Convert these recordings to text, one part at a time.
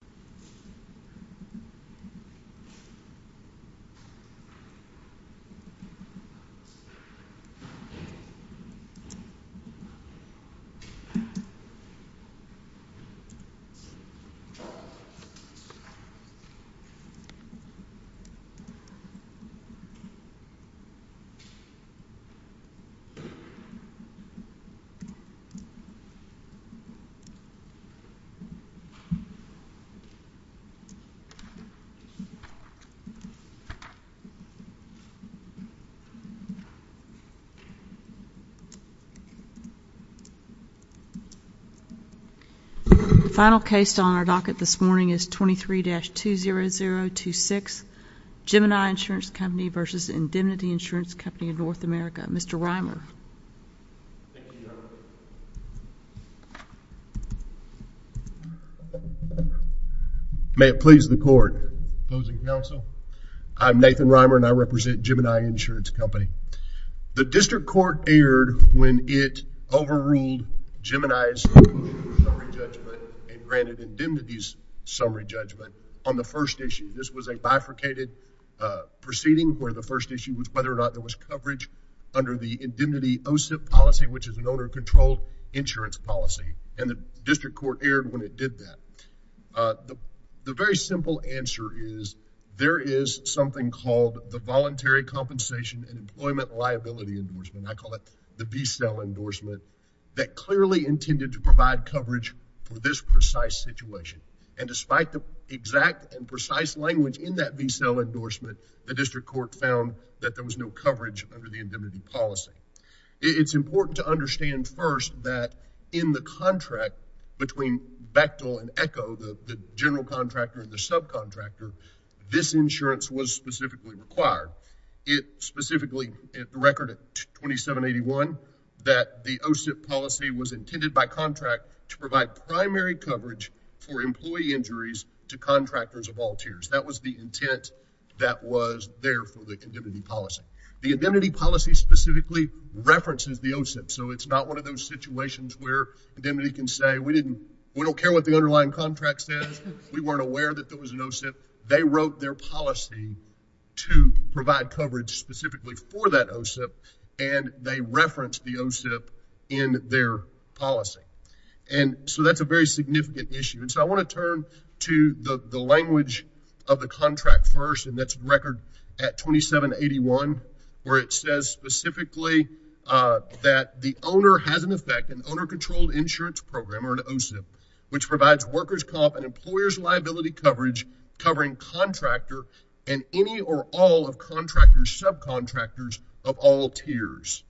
In the name of the Father, and of the Son, and of the Holy Ghost. Amen. The final case on our docket this morning is 23-20026, Gemini Insurance Company v. Indemnity Insurance Company of North America. Mr. Reimer. Thank you, Your Honor. This is a case on the Indemnity OSIP policy, which is an owner-controlled insurance policy, and the district court erred when it did that. The very simple answer is there is something called the Voluntary Compensation and Employment Liability Endorsement. I call it the V-cell endorsement that clearly intended to provide coverage for this precise situation. And despite the exact and precise language in that V-cell endorsement, the district court found that there was no coverage under the Indemnity policy. It's important to understand first that in the contract between Bechtel and Echo, the general contractor and the subcontractor, this insurance was specifically required. It specifically, in the record of 2781, that the OSIP policy was intended by contract to provide primary coverage for employee injuries to contractors of all tiers. That was the intent that was there for the Indemnity policy. The Indemnity policy specifically references the OSIP, so it's not one of those situations where Indemnity can say, we don't care what the underlying contract says, we weren't aware that there was an OSIP. They wrote their policy to provide coverage specifically for that OSIP, and they referenced the OSIP in their policy. And so that's a very significant issue. And so I want to turn to the language of the contract first, and that's record at 2781, where it says specifically that the owner has an effect, an owner-controlled insurance program, or an OSIP, which provides workers' comp and employers' liability coverage covering contractor and any or all of contractors' subcontractors of all tiers.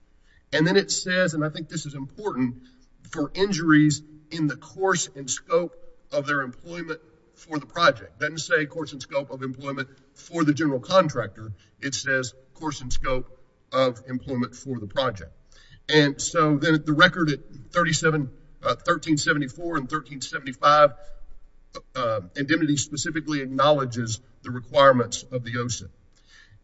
And then it says, and I think this is important, for injuries in the course and scope of their employment for the project. It doesn't say course and scope of employment for the general contractor. It says course and scope of employment for the project. And so then the record at 1374 and 1375, Indemnity specifically acknowledges the requirements of the OSIP.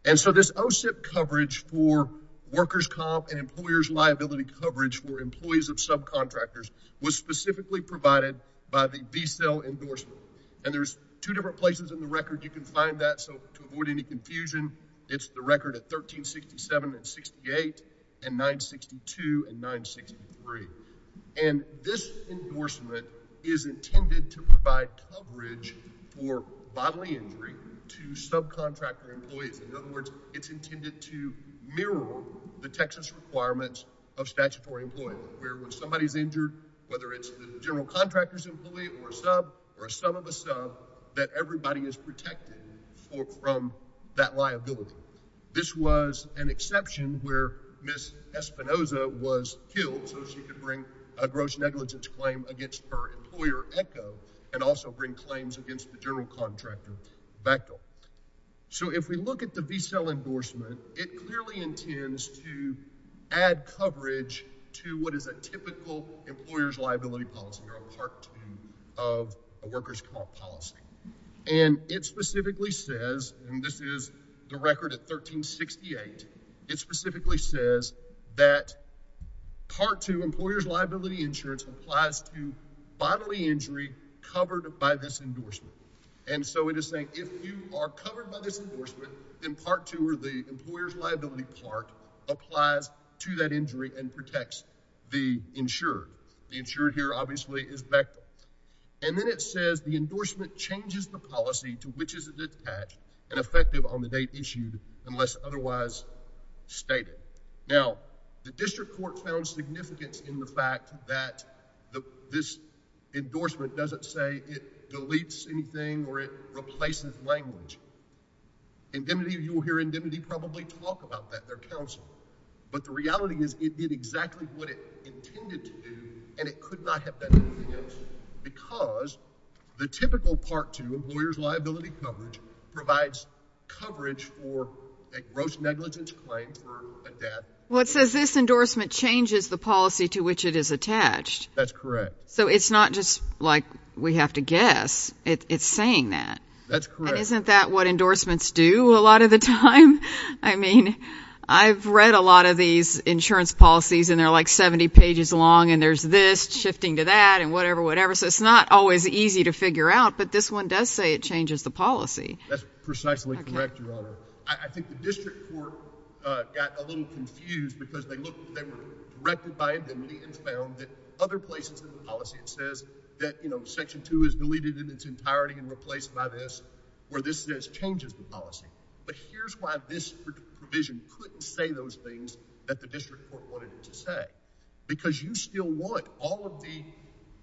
And so this OSIP coverage for workers' comp and employers' liability coverage for employees of subcontractors was specifically provided by the VSAIL endorsement. And there's two different places in the record you can find that, so to avoid any confusion, it's the record at 1367 and 68 and 962 and 963. And this endorsement is intended to provide coverage for bodily injury to subcontractor employees. In other words, it's intended to mirror the Texas requirements of statutory employment, where when somebody's injured, whether it's the general contractor's employee or a sub, or a sub of a sub, that everybody is protected from that liability. This was an exception where Ms. Espinoza was killed so she could bring a gross negligence claim against her employer, Echo, and also bring claims against the general contractor, Bechtel. So if we look at the VSAIL endorsement, it clearly intends to add coverage to what is a typical employers' liability policy, or a Part 2 of a workers' comp policy. And it specifically says, and this is the record at 1368, it specifically says that Part 2, employers' liability insurance applies to bodily injury covered by this endorsement. And so it is saying, if you are covered by this endorsement, then Part 2, or the employers' liability part, applies to that injury and protects the insured. The insured here, obviously, is Bechtel. And then it says the endorsement changes the policy to which is attached and effective on the date issued, unless otherwise stated. Now, the district court found significance in the fact that this endorsement doesn't say it deletes anything or it replaces language. Indemnity, you will hear Indemnity probably talk about that in their counsel, but the reality is it did exactly what it intended to do and it could not have done anything else because the typical Part 2 of lawyers' liability coverage provides coverage for a gross negligence claim for a death. Well, it says this endorsement changes the policy to which it is attached. That's correct. So it's not just like we have to guess. It's saying that. That's correct. And isn't that what endorsements do a lot of the time? I mean, I've read a lot of these insurance policies and they're like 70 pages long and there's this shifting to that and whatever, whatever. So it's not always easy to figure out, but this one does say it changes the policy. That's precisely correct, Your Honor. I think the district court got a little confused because they were directed by Indemnity and found that other places in the policy it says that, you know, Section 2 is deleted in its entirety and replaced by this, where this says changes the policy. But here's why this provision couldn't say those things that the district court wanted it to say. Because you still want all of the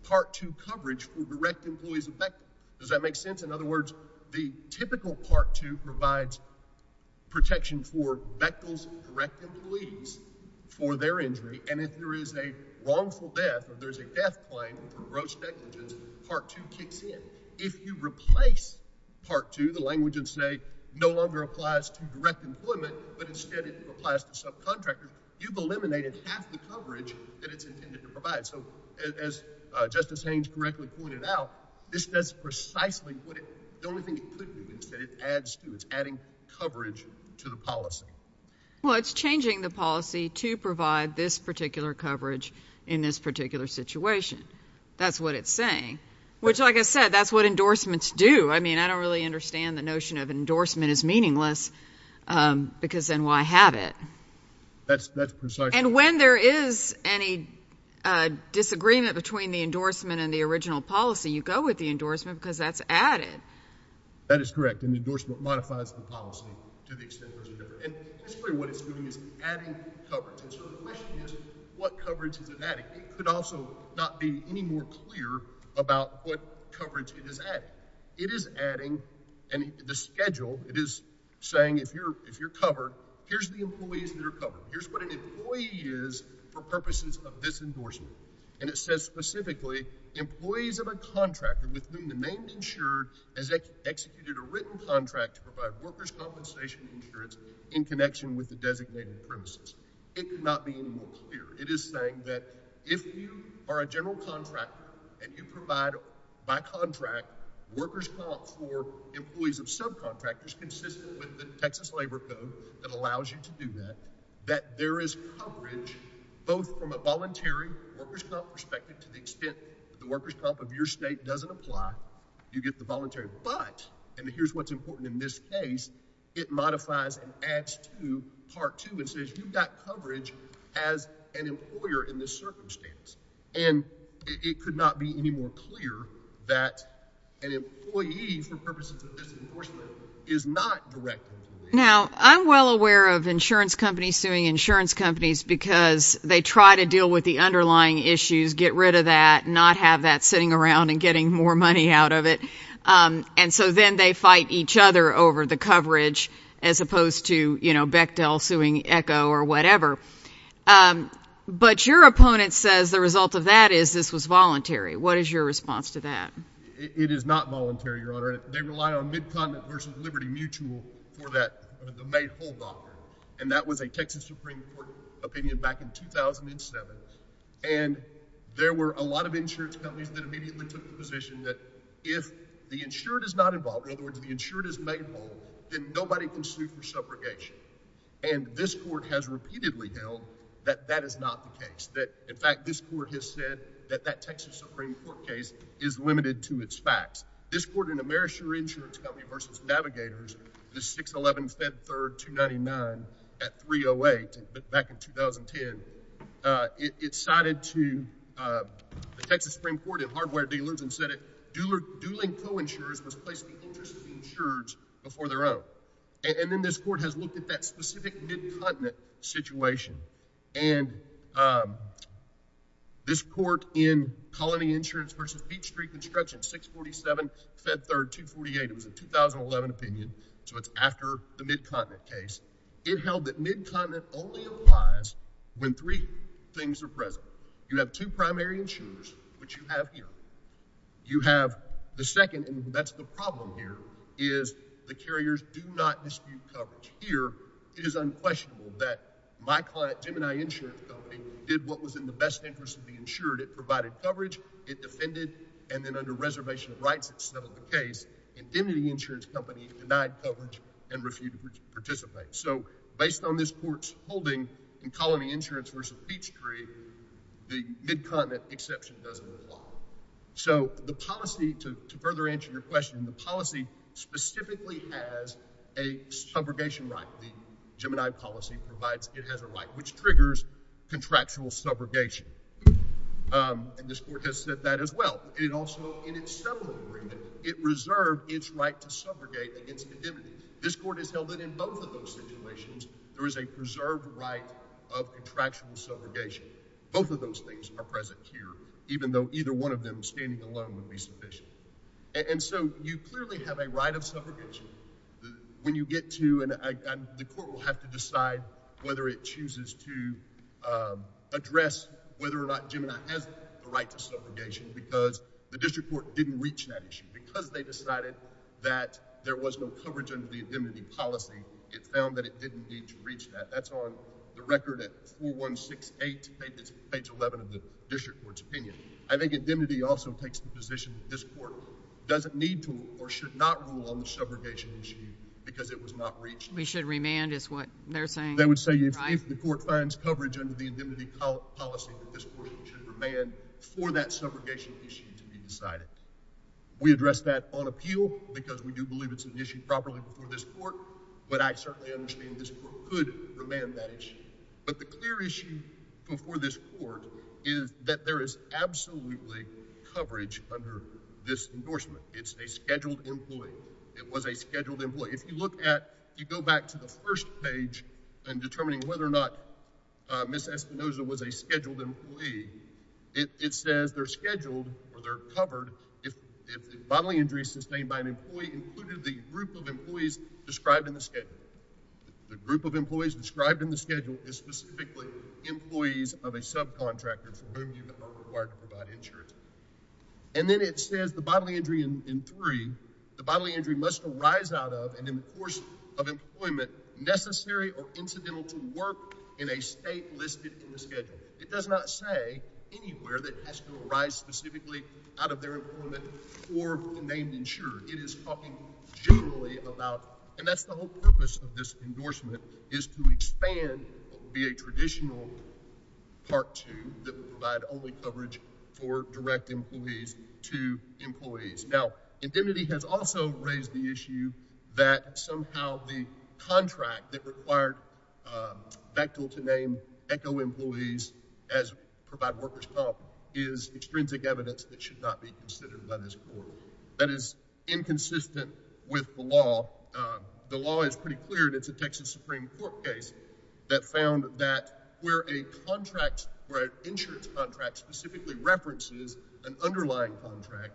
Part 2 coverage for direct employees of Bechtel. Does that make sense? In other words, the typical Part 2 provides protection for Bechtel's direct employees for their injury. And if there is a wrongful death or there's a death claim for gross negligence, Part 2 kicks in. If you replace Part 2, the language would say no longer applies to direct employment, but instead it applies to subcontractors, you've eliminated half the coverage that it's intended to provide. So as Justice Haynes correctly pointed out, this does precisely what it – the only thing it could do is that it adds to, it's adding coverage to the policy. Well, it's changing the policy to provide this particular coverage in this particular situation. That's what it's saying. Which, like I said, that's what endorsements do. I mean, I don't really understand the notion of endorsement is meaningless because then why have it? That's precisely right. And when there is any disagreement between the endorsement and the original policy, you go with the endorsement because that's added. That is correct, and the endorsement modifies the policy to the extent there's a difference. And basically what it's doing is adding coverage. And so the question is, what coverage is it adding? It could also not be any more clear about what coverage it is adding. It is adding, and the schedule, it is saying if you're covered, here's the employees that are covered. Here's what an employee is for purposes of this endorsement. And it says specifically, employees of a contractor with whom the named insurer has executed a written contract to provide workers' compensation insurance in connection with the designated premises. It could not be any more clear. It is saying that if you are a general contractor and you provide by contract workers' comp for employees of subcontractors consistent with the Texas Labor Code that allows you to do that, that there is coverage both from a voluntary workers' comp perspective to the extent that the workers' comp of your state doesn't apply, you get the voluntary. But, and here's what's important in this case, it modifies and adds to Part 2 and says you've got coverage as an employer in this circumstance. And it could not be any more clear that an employee for purposes of this endorsement is not directly. Now, I'm well aware of insurance companies suing insurance companies because they try to deal with the underlying issues, get rid of that, not have that sitting around and getting more money out of it. And so then they fight each other over the coverage as opposed to, you know, Bechdel suing Echo or whatever. But your opponent says the result of that is this was voluntary. What is your response to that? It is not voluntary, Your Honor. They rely on Mid-Continent versus Liberty Mutual for that, the Mayhole doctrine. And that was a Texas Supreme Court opinion back in 2007. And there were a lot of insurance companies that immediately took the position that if the insured is not involved, in other words, the insured is Mayhole, then nobody can sue for subrogation. And this court has repeatedly held that that is not the case, that, in fact, this court has said that that Texas Supreme Court case is limited to its facts. This court in AmeriShare Insurance Company versus Navigators, the 611 Fed Third 299 at 308 back in 2010, it cited to the Texas Supreme Court and hardware dealers and said that dueling co-insurers was placing interests of the insureds before their own. And then this court has looked at that specific Mid-Continent situation. And this court in Colony Insurance versus Beach Street Construction, 647 Fed Third 248, it was a 2011 opinion, so it's after the Mid-Continent case. It held that Mid-Continent only applies when three things are present. You have two primary insurers, which you have here. You have the second, and that's the problem here, is the carriers do not dispute coverage. Here, it is unquestionable that my client, Gemini Insurance Company, did what was in the best interest of the insured. It provided coverage, it defended, and then under reservation of rights, it settled the case. And Gemini Insurance Company denied coverage and refused to participate. So based on this court's holding in Colony Insurance versus Beach Street, the Mid-Continent exception doesn't apply. So the policy, to further answer your question, the policy specifically has a subrogation right. The Gemini policy provides it has a right, which triggers contractual subrogation. And this court has said that as well. It also, in its settlement agreement, it reserved its right to subrogate against indemnity. This court has held that in both of those situations, there is a preserved right of contractual subrogation. Both of those things are present here, even though either one of them standing alone would be sufficient. And so you clearly have a right of subrogation when you get to, and the court will have to decide whether it chooses to address whether or not Gemini has the right to subrogation because the district court didn't reach that issue. Because they decided that there was no coverage under the indemnity policy, it found that it didn't need to reach that. That's on the record at 4168, page 11 of the district court's opinion. I think indemnity also takes the position that this court doesn't need to or should not rule on the subrogation issue because it was not reached. We should remand is what they're saying. They would say if the court finds coverage under the indemnity policy, this court should remand for that subrogation issue to be decided. We address that on appeal because we do believe it's an issue properly before this court, but I certainly understand this court could remand that issue. But the clear issue before this court is that there is absolutely coverage under this endorsement. It's a scheduled employee. It was a scheduled employee. If you go back to the first page in determining whether or not Ms. Espinoza was a scheduled employee, it says they're scheduled or they're covered if the bodily injury sustained by an employee included the group of employees described in the schedule. The group of employees described in the schedule is specifically employees of a subcontractor for whom you are required to provide insurance. And then it says the bodily injury in three, the bodily injury must arise out of and in the course of employment necessary or incidental to work in a state listed in the schedule. It does not say anywhere that has to arise specifically out of their employment or named insured. It is talking generally about, and that's the whole purpose of this endorsement, is to expand what would be a traditional Part 2 that would provide only coverage for direct employees to employees. Now, indemnity has also raised the issue that somehow the contract that required Bechtel to name ECHO employees as provide workers' comp is extrinsic evidence that should not be considered by this court. That is inconsistent with the law. The law is pretty clear that it's a Texas Supreme Court case that found that where a contract, where an insurance contract specifically references an underlying contract,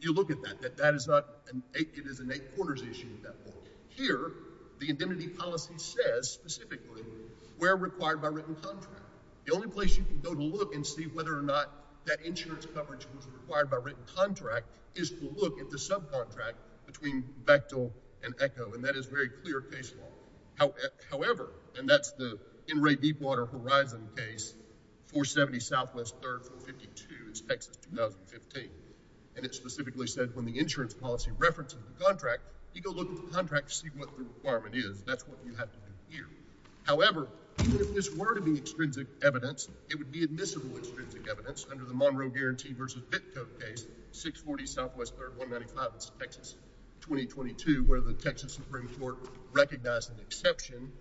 you look at that, that that is not, it is an eight-quarters issue at that point. Here, the indemnity policy says specifically where required by written contract. The only place you can go to look and see whether or not that insurance coverage was required by written contract is to look at the subcontract between Bechtel and ECHO, and that is very clear case law. However, and that's the NRA Deepwater Horizon case, 470 Southwest 3rd, 452, it's Texas 2015, and it specifically says when the insurance policy references the contract, you go look at the contract to see what the requirement is. That's what you have to do here. However, even if this were to be extrinsic evidence, it would be admissible extrinsic evidence under the Monroe Guarantee versus Bitco case, 640 Southwest 3rd, 195, it's Texas 2022, where the Texas Supreme Court recognized an exception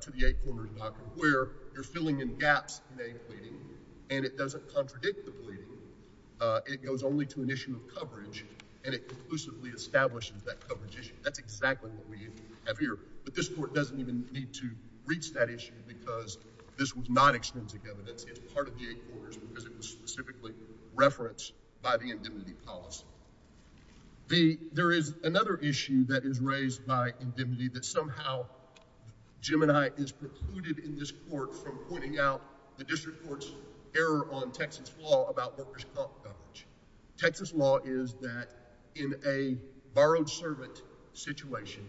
to the eight-quarters doctrine where you're filling in gaps in aid pleading, and it doesn't contradict the pleading. It goes only to an issue of coverage, and it conclusively establishes that coverage issue. That's exactly what we have here, but this court doesn't even need to reach that issue because this was not extrinsic evidence. It's part of the eight-quarters because it was specifically referenced by the indemnity policy. There is another issue that is raised by indemnity that somehow Gemini is precluded in this court from pointing out the district court's error on Texas law about workers' comp coverage. Texas law is that in a borrowed servant situation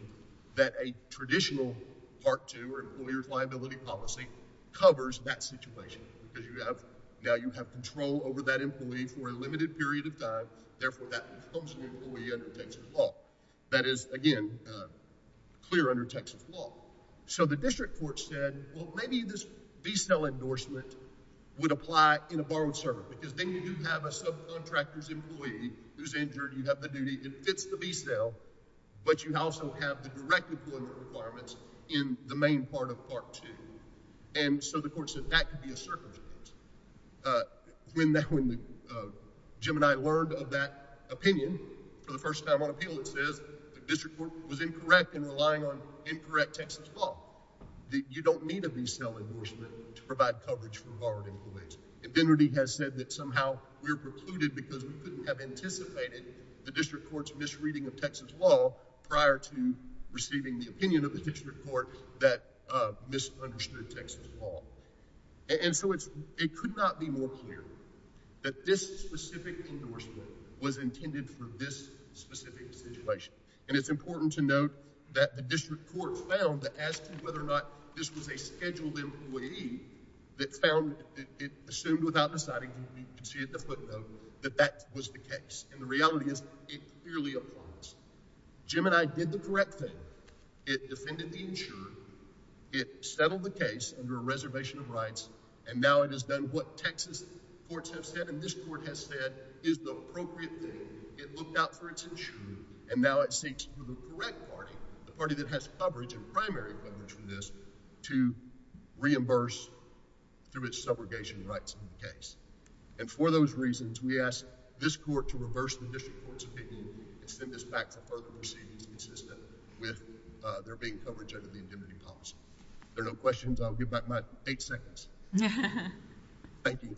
that a traditional Part 2 or employer's liability policy covers that situation. Now you have control over that employee for a limited period of time. Therefore, that person is an employee under Texas law. That is, again, clear under Texas law. So the district court said, well, maybe this B-cell endorsement would apply in a borrowed servant because then you do have a subcontractor's employee who's injured, you have the duty that fits the B-cell, but you also have the direct employment requirements in the main part of Part 2. And so the court said that could be a circumstance. When Gemini learned of that opinion for the first time on appeal, it says the district court was incorrect in relying on incorrect Texas law. You don't need a B-cell endorsement to provide coverage for borrowed employees. Indemnity has said that somehow we're precluded because we couldn't have anticipated the district court's misreading of Texas law prior to receiving the opinion of the district court that misunderstood Texas law. And so it could not be more clear that this specific endorsement was intended for this specific situation. And it's important to note that the district court found that as to whether or not this was a scheduled employee that found it assumed without deciding, as you can see at the footnote, that that was the case. And the reality is it clearly applies. Gemini did the correct thing. It defended the insurer. It settled the case under a reservation of rights, and now it has done what Texas courts have said and this court has said is the appropriate thing. It looked out for its insurer, and now it seeks for the correct party, the party that has coverage and primary coverage for this, to reimburse through its subrogation rights in the case. And for those reasons, we ask this court to reverse the district court's opinion and send this back to further proceedings with their main coverage under the indemnity clause. If there are no questions, I'll give back my eight seconds. Thank you.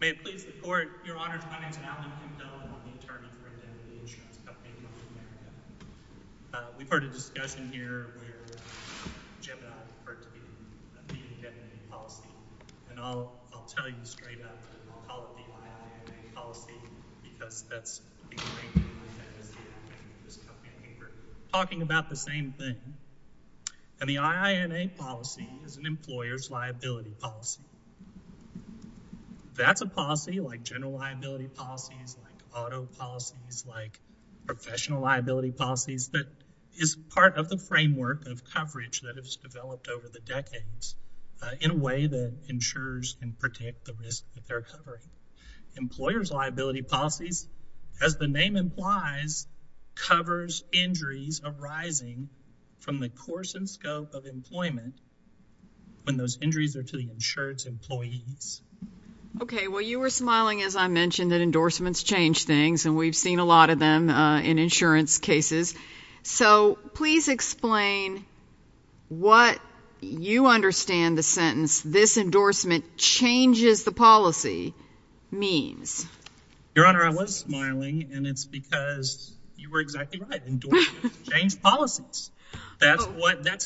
May it please the court. Your Honor, my name is Alan Quindon. I'm the attorney present at the Insurance Company of North America. We've heard a discussion here where Gemini referred to the immediate indemnity policy, and I'll tell you straight up, I'll call it the IINA policy because that's a great thing that has happened in this company. We're talking about the same thing, and the IINA policy is an employer's liability policy. That's a policy like general liability policies, like auto policies, like professional liability policies that is part of the framework of coverage that has developed over the decades in a way that insurers can protect the risk that they're covering. Employer's liability policies, as the name implies, covers injuries arising from the course and scope of employment when those injuries are to the insured's employees. Okay, well, you were smiling as I mentioned that endorsements change things, and we've seen a lot of them in insurance cases. So please explain what you understand the sentence this endorsement changes the policy means. Your Honor, I was smiling, and it's because you were exactly right. Endorsements change policies. That's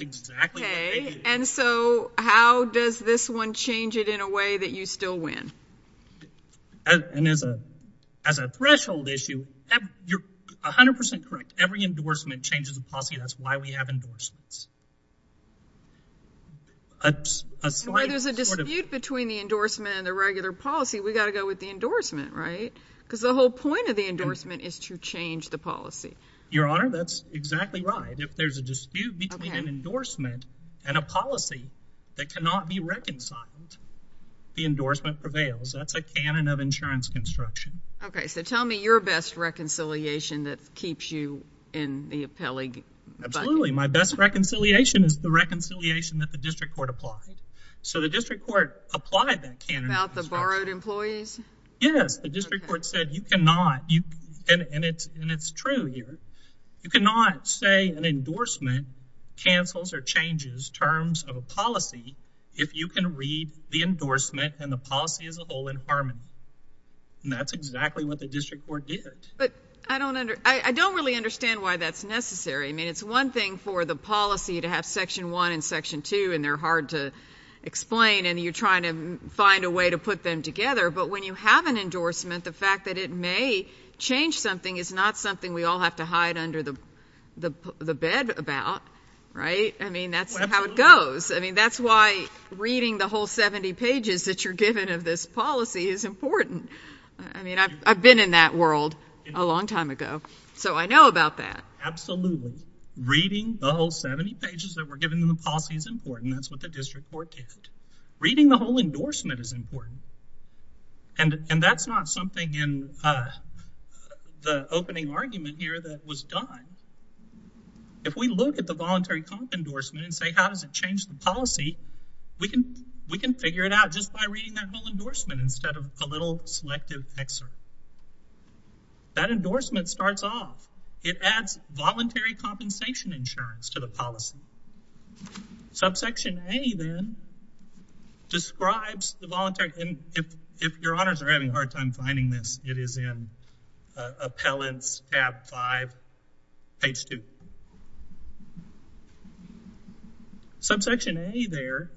exactly what they do. Okay, and so how does this one change it in a way that you still win? And as a threshold issue, you're 100% correct. Every endorsement changes the policy. That's why we have endorsements. There's a dispute between the endorsement and the regular policy. We've got to go with the endorsement, right? Because the whole point of the endorsement is to change the policy. Your Honor, that's exactly right. If there's a dispute between an endorsement and a policy that cannot be reconciled, the endorsement prevails. That's a canon of insurance construction. Okay, so tell me your best reconciliation that keeps you in the appellee bucket. Absolutely, my best reconciliation is the reconciliation that the district court applied. So the district court applied that canon of construction. About the borrowed employees? Yes, the district court said you cannot, and it's true here, you cannot say an endorsement cancels or changes terms of a policy if you can read the endorsement and the policy as a whole in harmony. And that's exactly what the district court did. But I don't really understand why that's necessary. I mean, it's one thing for the policy to have Section 1 and Section 2, and they're hard to explain, and you're trying to find a way to put them together. But when you have an endorsement, the fact that it may change something is not something we all have to hide under the bed about, right? I mean, that's how it goes. I mean, that's why reading the whole 70 pages that you're given of this policy is important. I mean, I've been in that world a long time ago, so I know about that. Absolutely. Reading the whole 70 pages that were given in the policy is important. That's what the district court did. Reading the whole endorsement is important. And that's not something in the opening argument here that was done. If we look at the voluntary comp endorsement and say how does it change the policy, we can figure it out just by reading that whole endorsement instead of a little selective excerpt. That endorsement starts off. It adds voluntary compensation insurance to the policy. Subsection A, then, describes the voluntary. And if your honors are having a hard time finding this, it is in Appellants, tab 5, page 2. Subsection A there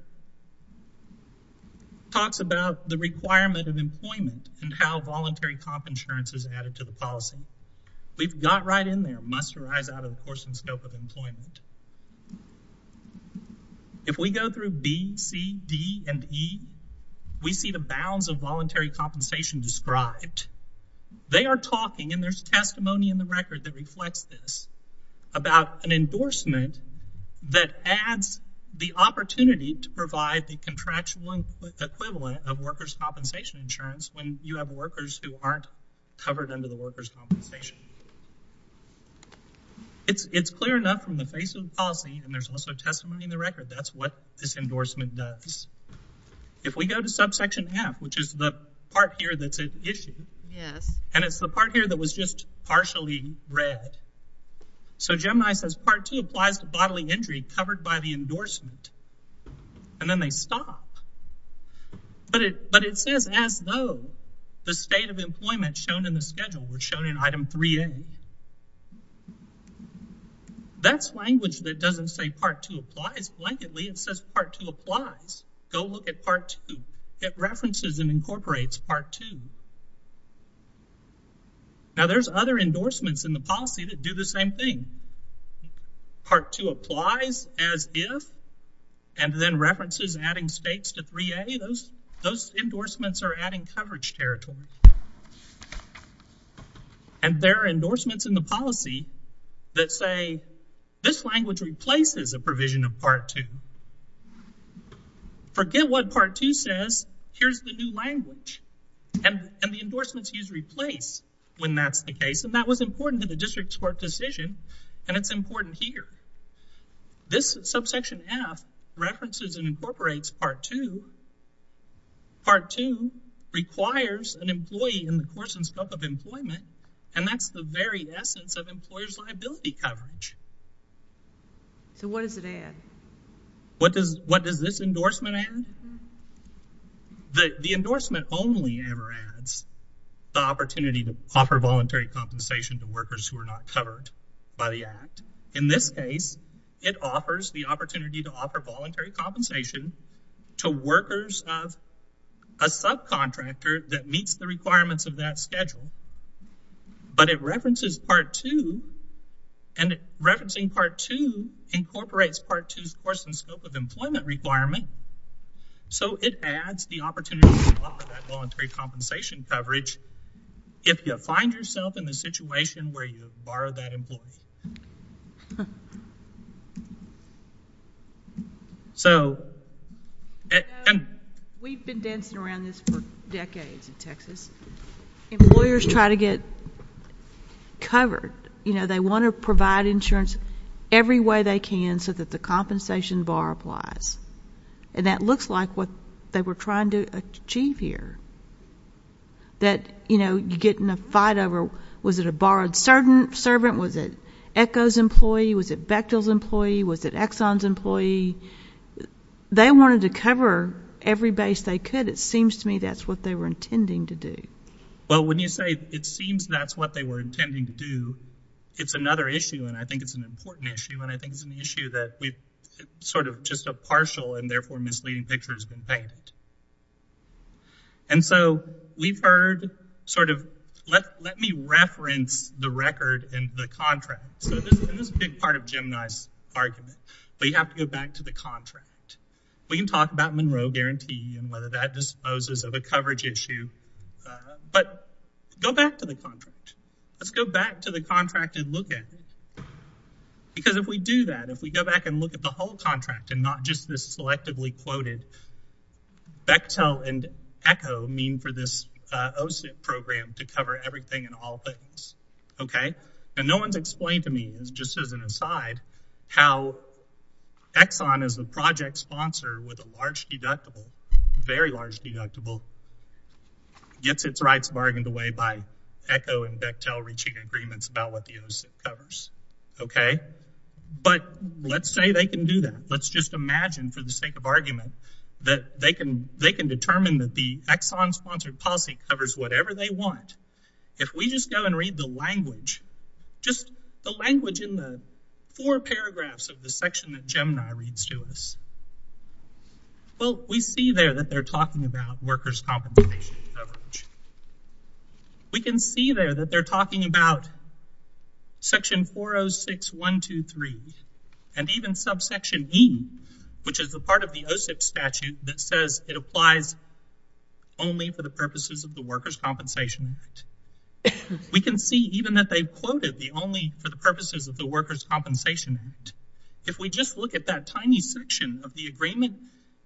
talks about the requirement of employment and how voluntary comp insurance is added to the policy. We've got right in there. It must arise out of the course and scope of employment. If we go through B, C, D, and E, we see the bounds of voluntary compensation described. They are talking, and there's testimony in the record that reflects this, about an endorsement that adds the opportunity to provide the contractual equivalent of workers' compensation insurance when you have workers who aren't covered under the workers' compensation. It's clear enough from the face of the policy, and there's also testimony in the record, that's what this endorsement does. If we go to subsection F, which is the part here that's at issue, and it's the part here that was just partially read, so Gemini says part 2 applies to bodily injury covered by the endorsement, and then they stop. But it says as though the state of employment shown in the schedule, which is shown in item 3A, that's language that doesn't say part 2 applies. Blanketly, it says part 2 applies. Go look at part 2. It references and incorporates part 2. Now, there's other endorsements in the policy that do the same thing. Part 2 applies as if, and then references adding states to 3A. Those endorsements are adding coverage territory. And there are endorsements in the policy that say, this language replaces a provision of part 2. Forget what part 2 says. Here's the new language. And the endorsements use replace when that's the case, and that was important to the district court decision, and it's important here. This subsection F references and incorporates part 2. Part 2 requires an employee in the course and scope of employment, and that's the very essence of employer's liability coverage. So what does it add? What does this endorsement add? The endorsement only ever adds the opportunity to offer voluntary compensation to workers who are not covered by the act. In this case, it offers the opportunity to offer voluntary compensation to workers of a subcontractor that meets the requirements of that schedule. But it references part 2, and referencing part 2 incorporates part 2's scope of employment requirement. So it adds the opportunity to offer that voluntary compensation coverage if you find yourself in the situation where you've borrowed that employee. So we've been dancing around this for decades in Texas. Employers try to get covered. You know, they want to provide insurance every way they can so that the compensation bar applies. And that looks like what they were trying to achieve here, that, you know, you get in a fight over, was it a borrowed servant? Was it Echo's employee? Was it Bechtel's employee? Was it Exxon's employee? They wanted to cover every base they could. It seems to me that's what they were intending to do. Well, when you say it seems that's what they were intending to do, it's another issue, and I think it's an important issue, and I think it's an issue that we've sort of just a partial and therefore misleading picture has been painted. And so we've heard sort of let me reference the record and the contract. So this is a big part of Jim Nye's argument, but you have to go back to the contract. We can talk about Monroe Guarantee and whether that disposes of a coverage issue. But go back to the contract. Let's go back to the contract and look at it. Because if we do that, if we go back and look at the whole contract and not just this selectively quoted Bechtel and Echo mean for this OSIP program to cover everything and all things, okay? And no one's explained to me, just as an aside, how Exxon as a project sponsor with a large deductible, very large deductible, gets its rights bargained away by Echo and Bechtel reaching agreements about what the OSIP covers, okay? But let's say they can do that. Let's just imagine for the sake of argument that they can determine that the Exxon-sponsored policy covers whatever they want. If we just go and read the language, just the language in the four paragraphs of the section that Jim Nye reads to us, well, we see there that they're talking about workers' compensation coverage. We can see there that they're talking about section 406.123 and even subsection E, which is a part of the OSIP statute that says it applies only for the purposes of the Workers' Compensation Act. We can see even that they've quoted the only for the purposes of the Workers' Compensation Act. If we just look at that tiny section of the agreement,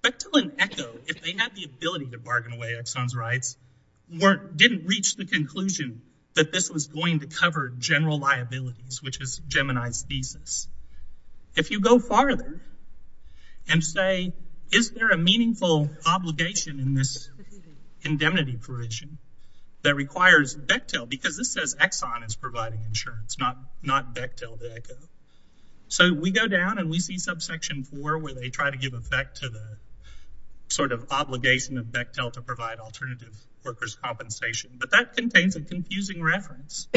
Bechtel and Echo, if they had the ability to bargain away Exxon's rights, didn't reach the conclusion that this was going to cover general liabilities, which is Jim Nye's thesis. If you go farther and say, is there a meaningful obligation in this indemnity provision that requires Bechtel? Because this says Exxon is providing insurance, not Bechtel to Echo. So we go down and we see subsection 4 where they try to give effect to the sort of obligation of Bechtel to provide alternative workers' compensation. But that contains a confusing reference.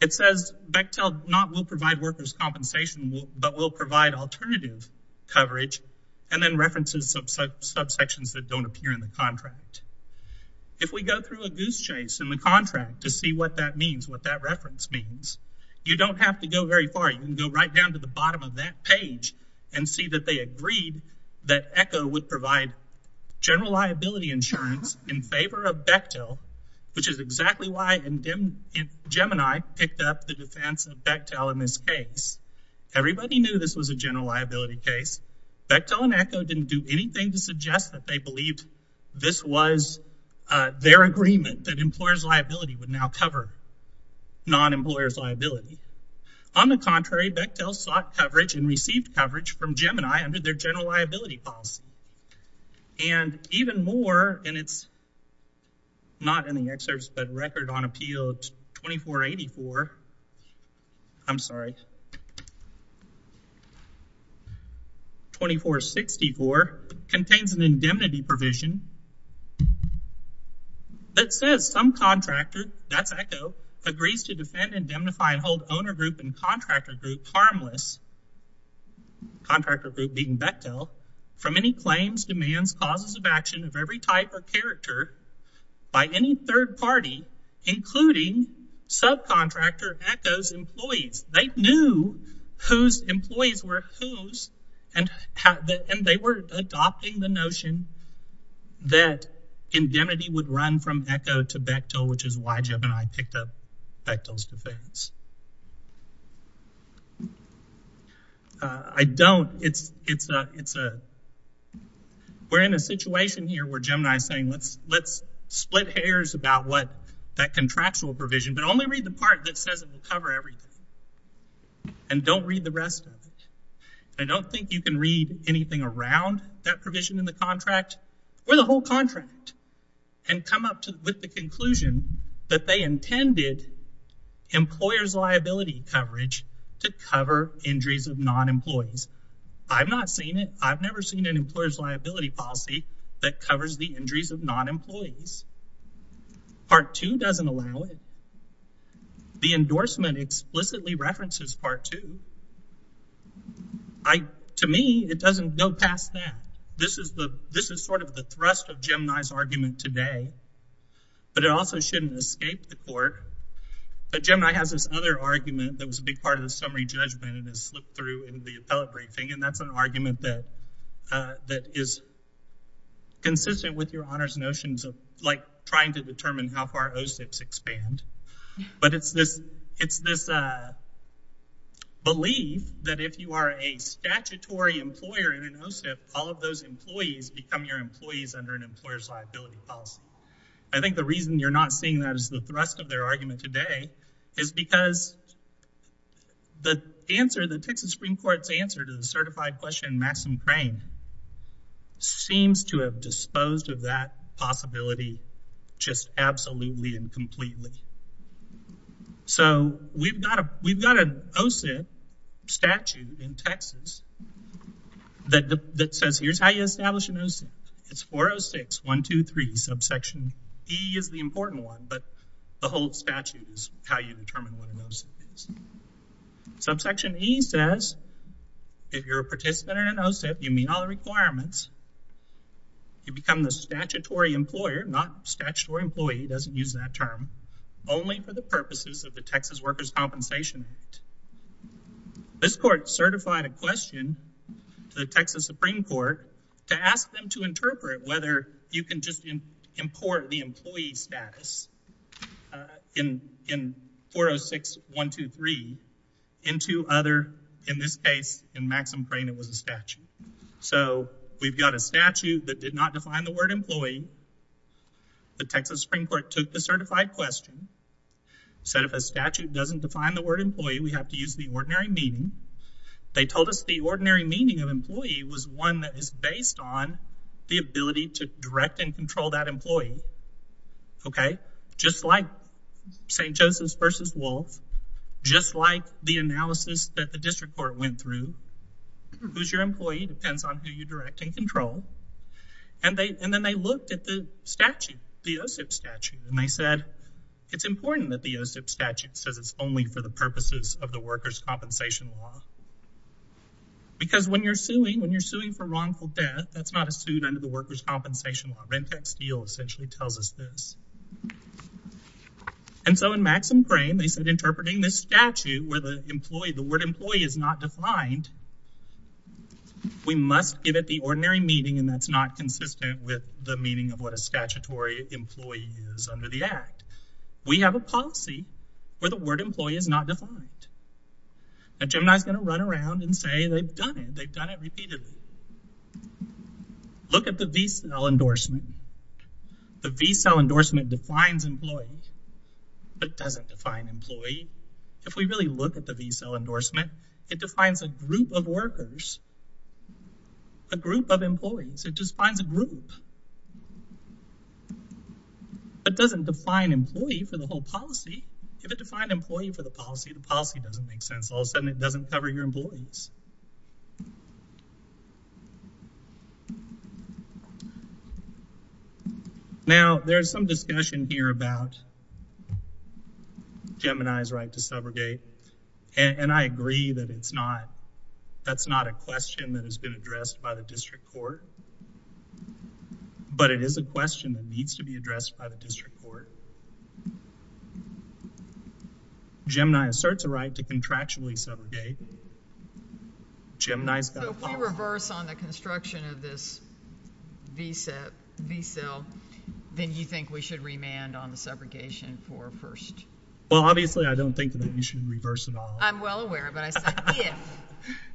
It says Bechtel not will provide workers' compensation, but will provide alternative coverage and then references subsections that don't appear in the contract. If we go through a goose chase in the contract to see what that means, what that reference means, you don't have to go very far. You can go right down to the bottom of that page and see that they agreed that Echo would provide general liability insurance in favor of Bechtel, which is exactly why Jim Nye picked up the defense of Bechtel in this case. Everybody knew this was a general liability case. Bechtel and Echo didn't do anything to suggest that they believed this was their agreement that employers' liability would now cover non-employers' liability. On the contrary, Bechtel sought coverage and received coverage from Jim Nye under their general liability policy. And even more, and it's not in the excerpts, but record on appeal 2484, I'm sorry, 2464, contains an indemnity provision that says some contractor, that's Echo, agrees to defend, indemnify, and hold owner group and contractor group harmless, contractor group being Bechtel, from any claims, demands, causes of action of every type or character by any third party, including subcontractor Echo's employees. They knew whose employees were whose, and they were adopting the notion that indemnity would run from Echo to Bechtel, which is why Jim Nye picked up Bechtel's defense. I don't, it's a, we're in a situation here where Jim Nye is saying, let's split hairs about what that contractual provision, but only read the part that says it will cover everything, and don't read the rest of it. I don't think you can read anything around that provision in the contract, or the whole contract, and come up with the conclusion that they intended employer's liability coverage to cover injuries of non-employees. I've not seen it. I've never seen an employer's liability policy that covers the injuries of non-employees. Part two doesn't allow it. The endorsement explicitly references part two. I, to me, it doesn't go past that. This is the, this is sort of the thrust of Jim Nye's argument today, but it also shouldn't escape the court. But Jim Nye has this other argument that was a big part of the summary judgment and has slipped through into the appellate briefing, and that's an argument that is consistent with your honors notions of like trying to determine how far OSIPs expand. But it's this belief that if you are a statutory employer in an OSIP, all of those employees become your employees under an employer's liability policy. I think the reason you're not seeing that as the thrust of their argument today is because the answer, the Texas Supreme Court's answer to the certified question in Maxim Crane seems to have disposed of that possibility just absolutely and completely. So we've got an OSIP statute in Texas that says here's how you establish an OSIP. It's 406.123, subsection E is the important one, but the whole statute is how you determine what an OSIP is. Subsection E says if you're a participant in an OSIP, you meet all the requirements, you become the statutory employer, not statutory employee, doesn't use that term, only for the purposes of the Texas Workers' Compensation Act. This court certified a question to the Texas Supreme Court to ask them to interpret whether you can just import the employee status in 406.123 into other, in this case, in Maxim Crane, it was a statute. So we've got a statute that did not define the word employee. The Texas Supreme Court took the certified question, said if a statute doesn't define the word employee, we have to use the ordinary meaning. It was one that is based on the ability to direct and control that employee, okay, just like St. Joseph's versus Wolfe, just like the analysis that the district court went through. Who's your employee depends on who you direct and control. And then they looked at the statute, the OSIP statute, and they said it's important that the OSIP statute says it's only for the purposes of the workers' compensation law. Because when you're suing, when you're suing for wrongful death, that's not a suit under the workers' compensation law. Rentex Steel essentially tells us this. And so in Maxim Crane, they said interpreting this statute where the employee, the word employee is not defined, we must give it the ordinary meaning, and that's not consistent with the meaning of what a statutory employee is under the act. We have a policy where the word employee is not defined. Now, Gemini is going to run around and say they've done it. They've done it repeatedly. Look at the v-cell endorsement. The v-cell endorsement defines employees but doesn't define employee. If we really look at the v-cell endorsement, it defines a group of workers, a group of employees. It defines a group but doesn't define employee for the whole policy. If it defined employee for the policy, the policy doesn't make sense. All of a sudden, it doesn't cover your employees. Now, there's some discussion here about Gemini's right to subrogate, and I agree that it's not a question that has been addressed by the district court, but it is a question that needs to be addressed by the district court. Gemini asserts a right to contractually subrogate. Gemini's got a policy. So, if we reverse on the construction of this v-cell, then you think we should remand on the subrogation for first? Well, obviously, I don't think that we should reverse at all. I'm well aware, but I said if.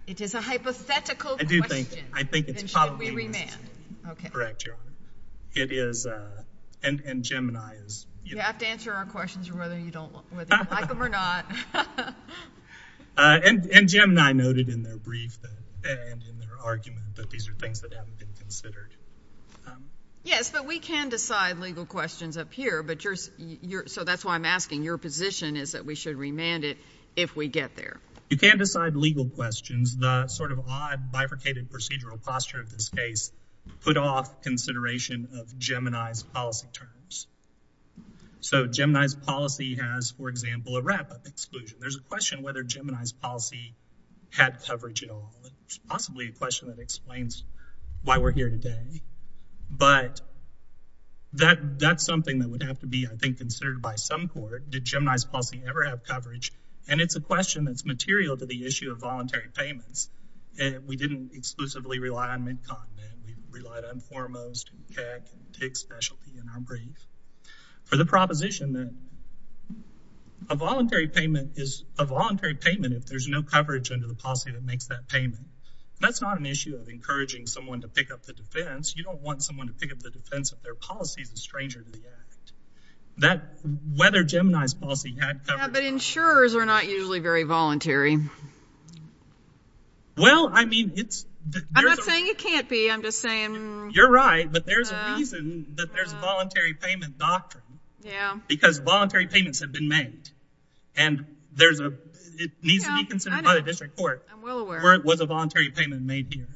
It is a hypothetical question. I think it's probably necessary. Then should we remand? Correct, Your Honor. You have to answer our questions whether you like them or not. And Gemini noted in their brief and in their argument that these are things that haven't been considered. Yes, but we can decide legal questions up here. So, that's why I'm asking. Your position is that we should remand it if we get there. You can decide legal questions. The sort of odd bifurcated procedural posture of this case put off consideration of Gemini's policy terms. So, Gemini's policy has, for example, a wrap-up exclusion. There's a question whether Gemini's policy had coverage at all. It's possibly a question that explains why we're here today. But that's something that would have to be, I think, Did Gemini's policy ever have coverage? And it's a question that's material to the issue of voluntary payments. We didn't exclusively rely on MnCOTN. We relied on Foremost and CAC and TIG specialty in our brief. For the proposition that a voluntary payment is a voluntary payment if there's no coverage under the policy that makes that payment, that's not an issue of encouraging someone to pick up the defense. You don't want someone to pick up the defense if their policy is a stranger to the act. Whether Gemini's policy had coverage... Yeah, but insurers are not usually very voluntary. Well, I mean, it's... I'm not saying it can't be, I'm just saying... You're right, but there's a reason that there's a voluntary payment doctrine. Yeah. Because voluntary payments have been made. And there's a... It needs to be considered by the district court... I'm well aware. ...was a voluntary payment made here.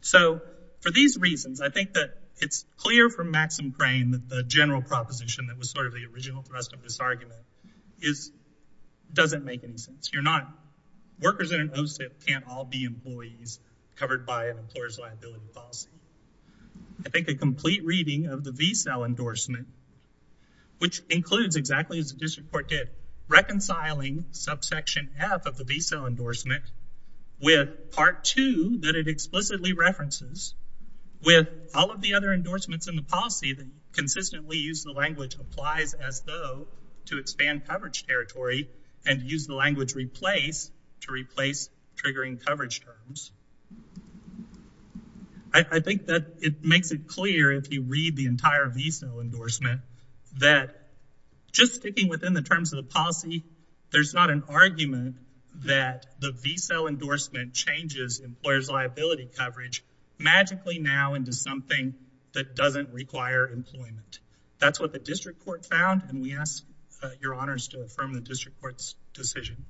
So, for these reasons, I think that it's clear from Maxim Crane that the general proposition that was sort of the original thrust of this argument doesn't make any sense. You're not... Workers in an OSIP can't all be employees covered by an employer's liability policy. I think a complete reading of the VSAIL endorsement, which includes exactly as the district court did, reconciling subsection F of the VSAIL endorsement with part 2 that it explicitly references with all of the other endorsements in the policy that consistently use the language applies as though to expand coverage territory and use the language replace to replace triggering coverage terms. I think that it makes it clear if you read the entire VSAIL endorsement that just sticking within the terms of the policy, there's not an argument that the VSAIL endorsement changes employers' liability coverage magically now into something that doesn't require employment. That's what the district court found, and we ask your honors to affirm the district court's decision.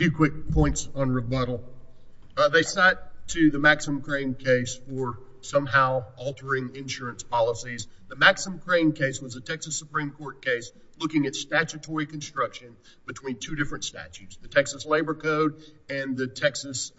A few quick points on rebuttal. They sat to the Maxim Crane case for somehow altering insurance policies. The Maxim Crane case was a Texas Supreme Court case looking at statutory construction between two different statutes, the Texas Labor Code and the Texas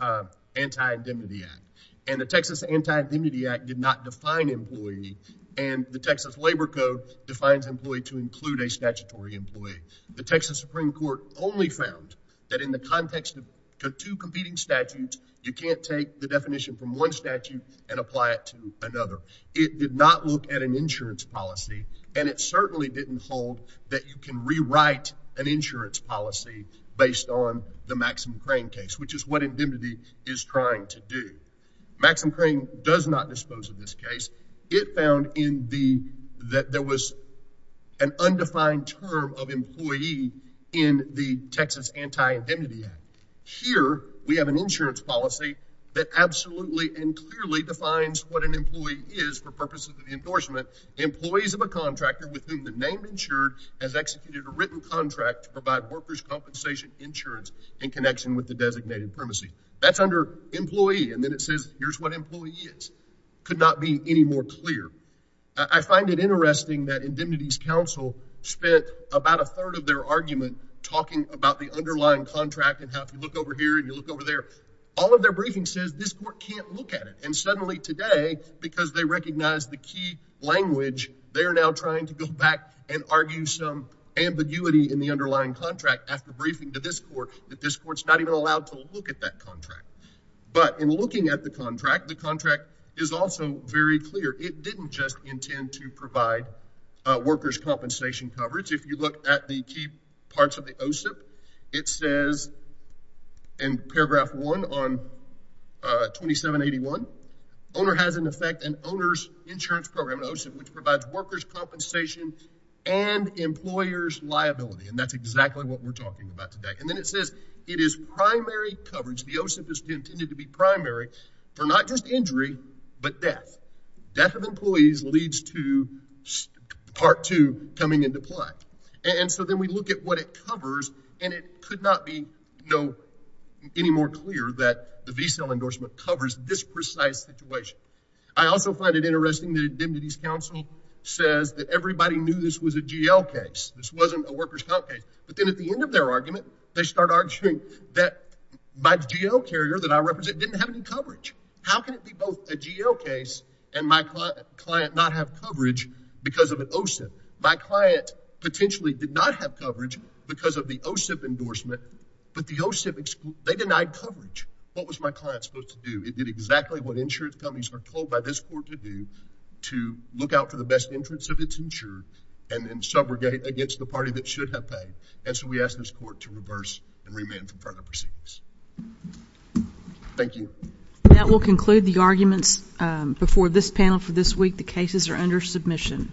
Anti-Indemnity Act. And the Texas Anti-Indemnity Act did not define employee, and the Texas Labor Code defines employee to include a statutory employee. The Texas Supreme Court only found that in the context of two competing statutes, you can't take the definition from one statute and apply it to another. It did not look at an insurance policy, and it certainly didn't hold that you can rewrite an insurance policy based on the Maxim Crane case, which is what indemnity is trying to do. Maxim Crane does not dispose of this case. It found in the... that there was an undefined term of employee in the Texas Anti-Indemnity Act. Here, we have an insurance policy that absolutely and clearly defines what an employee is for purposes of endorsement. Employees of a contractor with whom the name insured has executed a written contract to provide workers' compensation insurance in connection with the designated primacy. That's under employee, and then it says, here's what employee is. Could not be any more clear. I find it interesting that Indemnity's counsel spent about a third of their argument talking about the underlying contract and how if you look over here and you look over there, all of their briefing says this court can't look at it, and suddenly today, because they recognize the key language, they are now trying to go back and argue some ambiguity in the underlying contract after briefing to this court that this court's not even allowed to look at that contract. But in looking at the contract, the contract is also very clear. It didn't just intend to provide workers' compensation coverage. If you look at the key parts of the OSIP, it says in paragraph 1 on 2781, owner has in effect an owner's insurance program in OSIP which provides workers' compensation and employers' liability, and that's exactly what we're talking about today. And then it says it is primary coverage. The OSIP is intended to be primary for not just injury but death. Death of employees leads to Part 2 coming into play. And so then we look at what it covers, and it could not be, you know, any more clear that the VSAIL endorsement covers this precise situation. I also find it interesting that indemnity's counsel says that everybody knew this was a GL case. This wasn't a workers' comp case. But then at the end of their argument, they start arguing that my GL carrier that I represent didn't have any coverage. How can it be both a GL case and my client not have coverage because of an OSIP? My client potentially did not have coverage because of the OSIP endorsement, but the OSIP, they denied coverage. What was my client supposed to do? It did exactly what insurance companies are told by this court to do, to look out for the best interest of its insured and then subrogate against the party that should have paid. And so we ask this court to reverse and remand from further proceedings. Thank you. That will conclude the arguments before this panel for this week. The cases are under submission.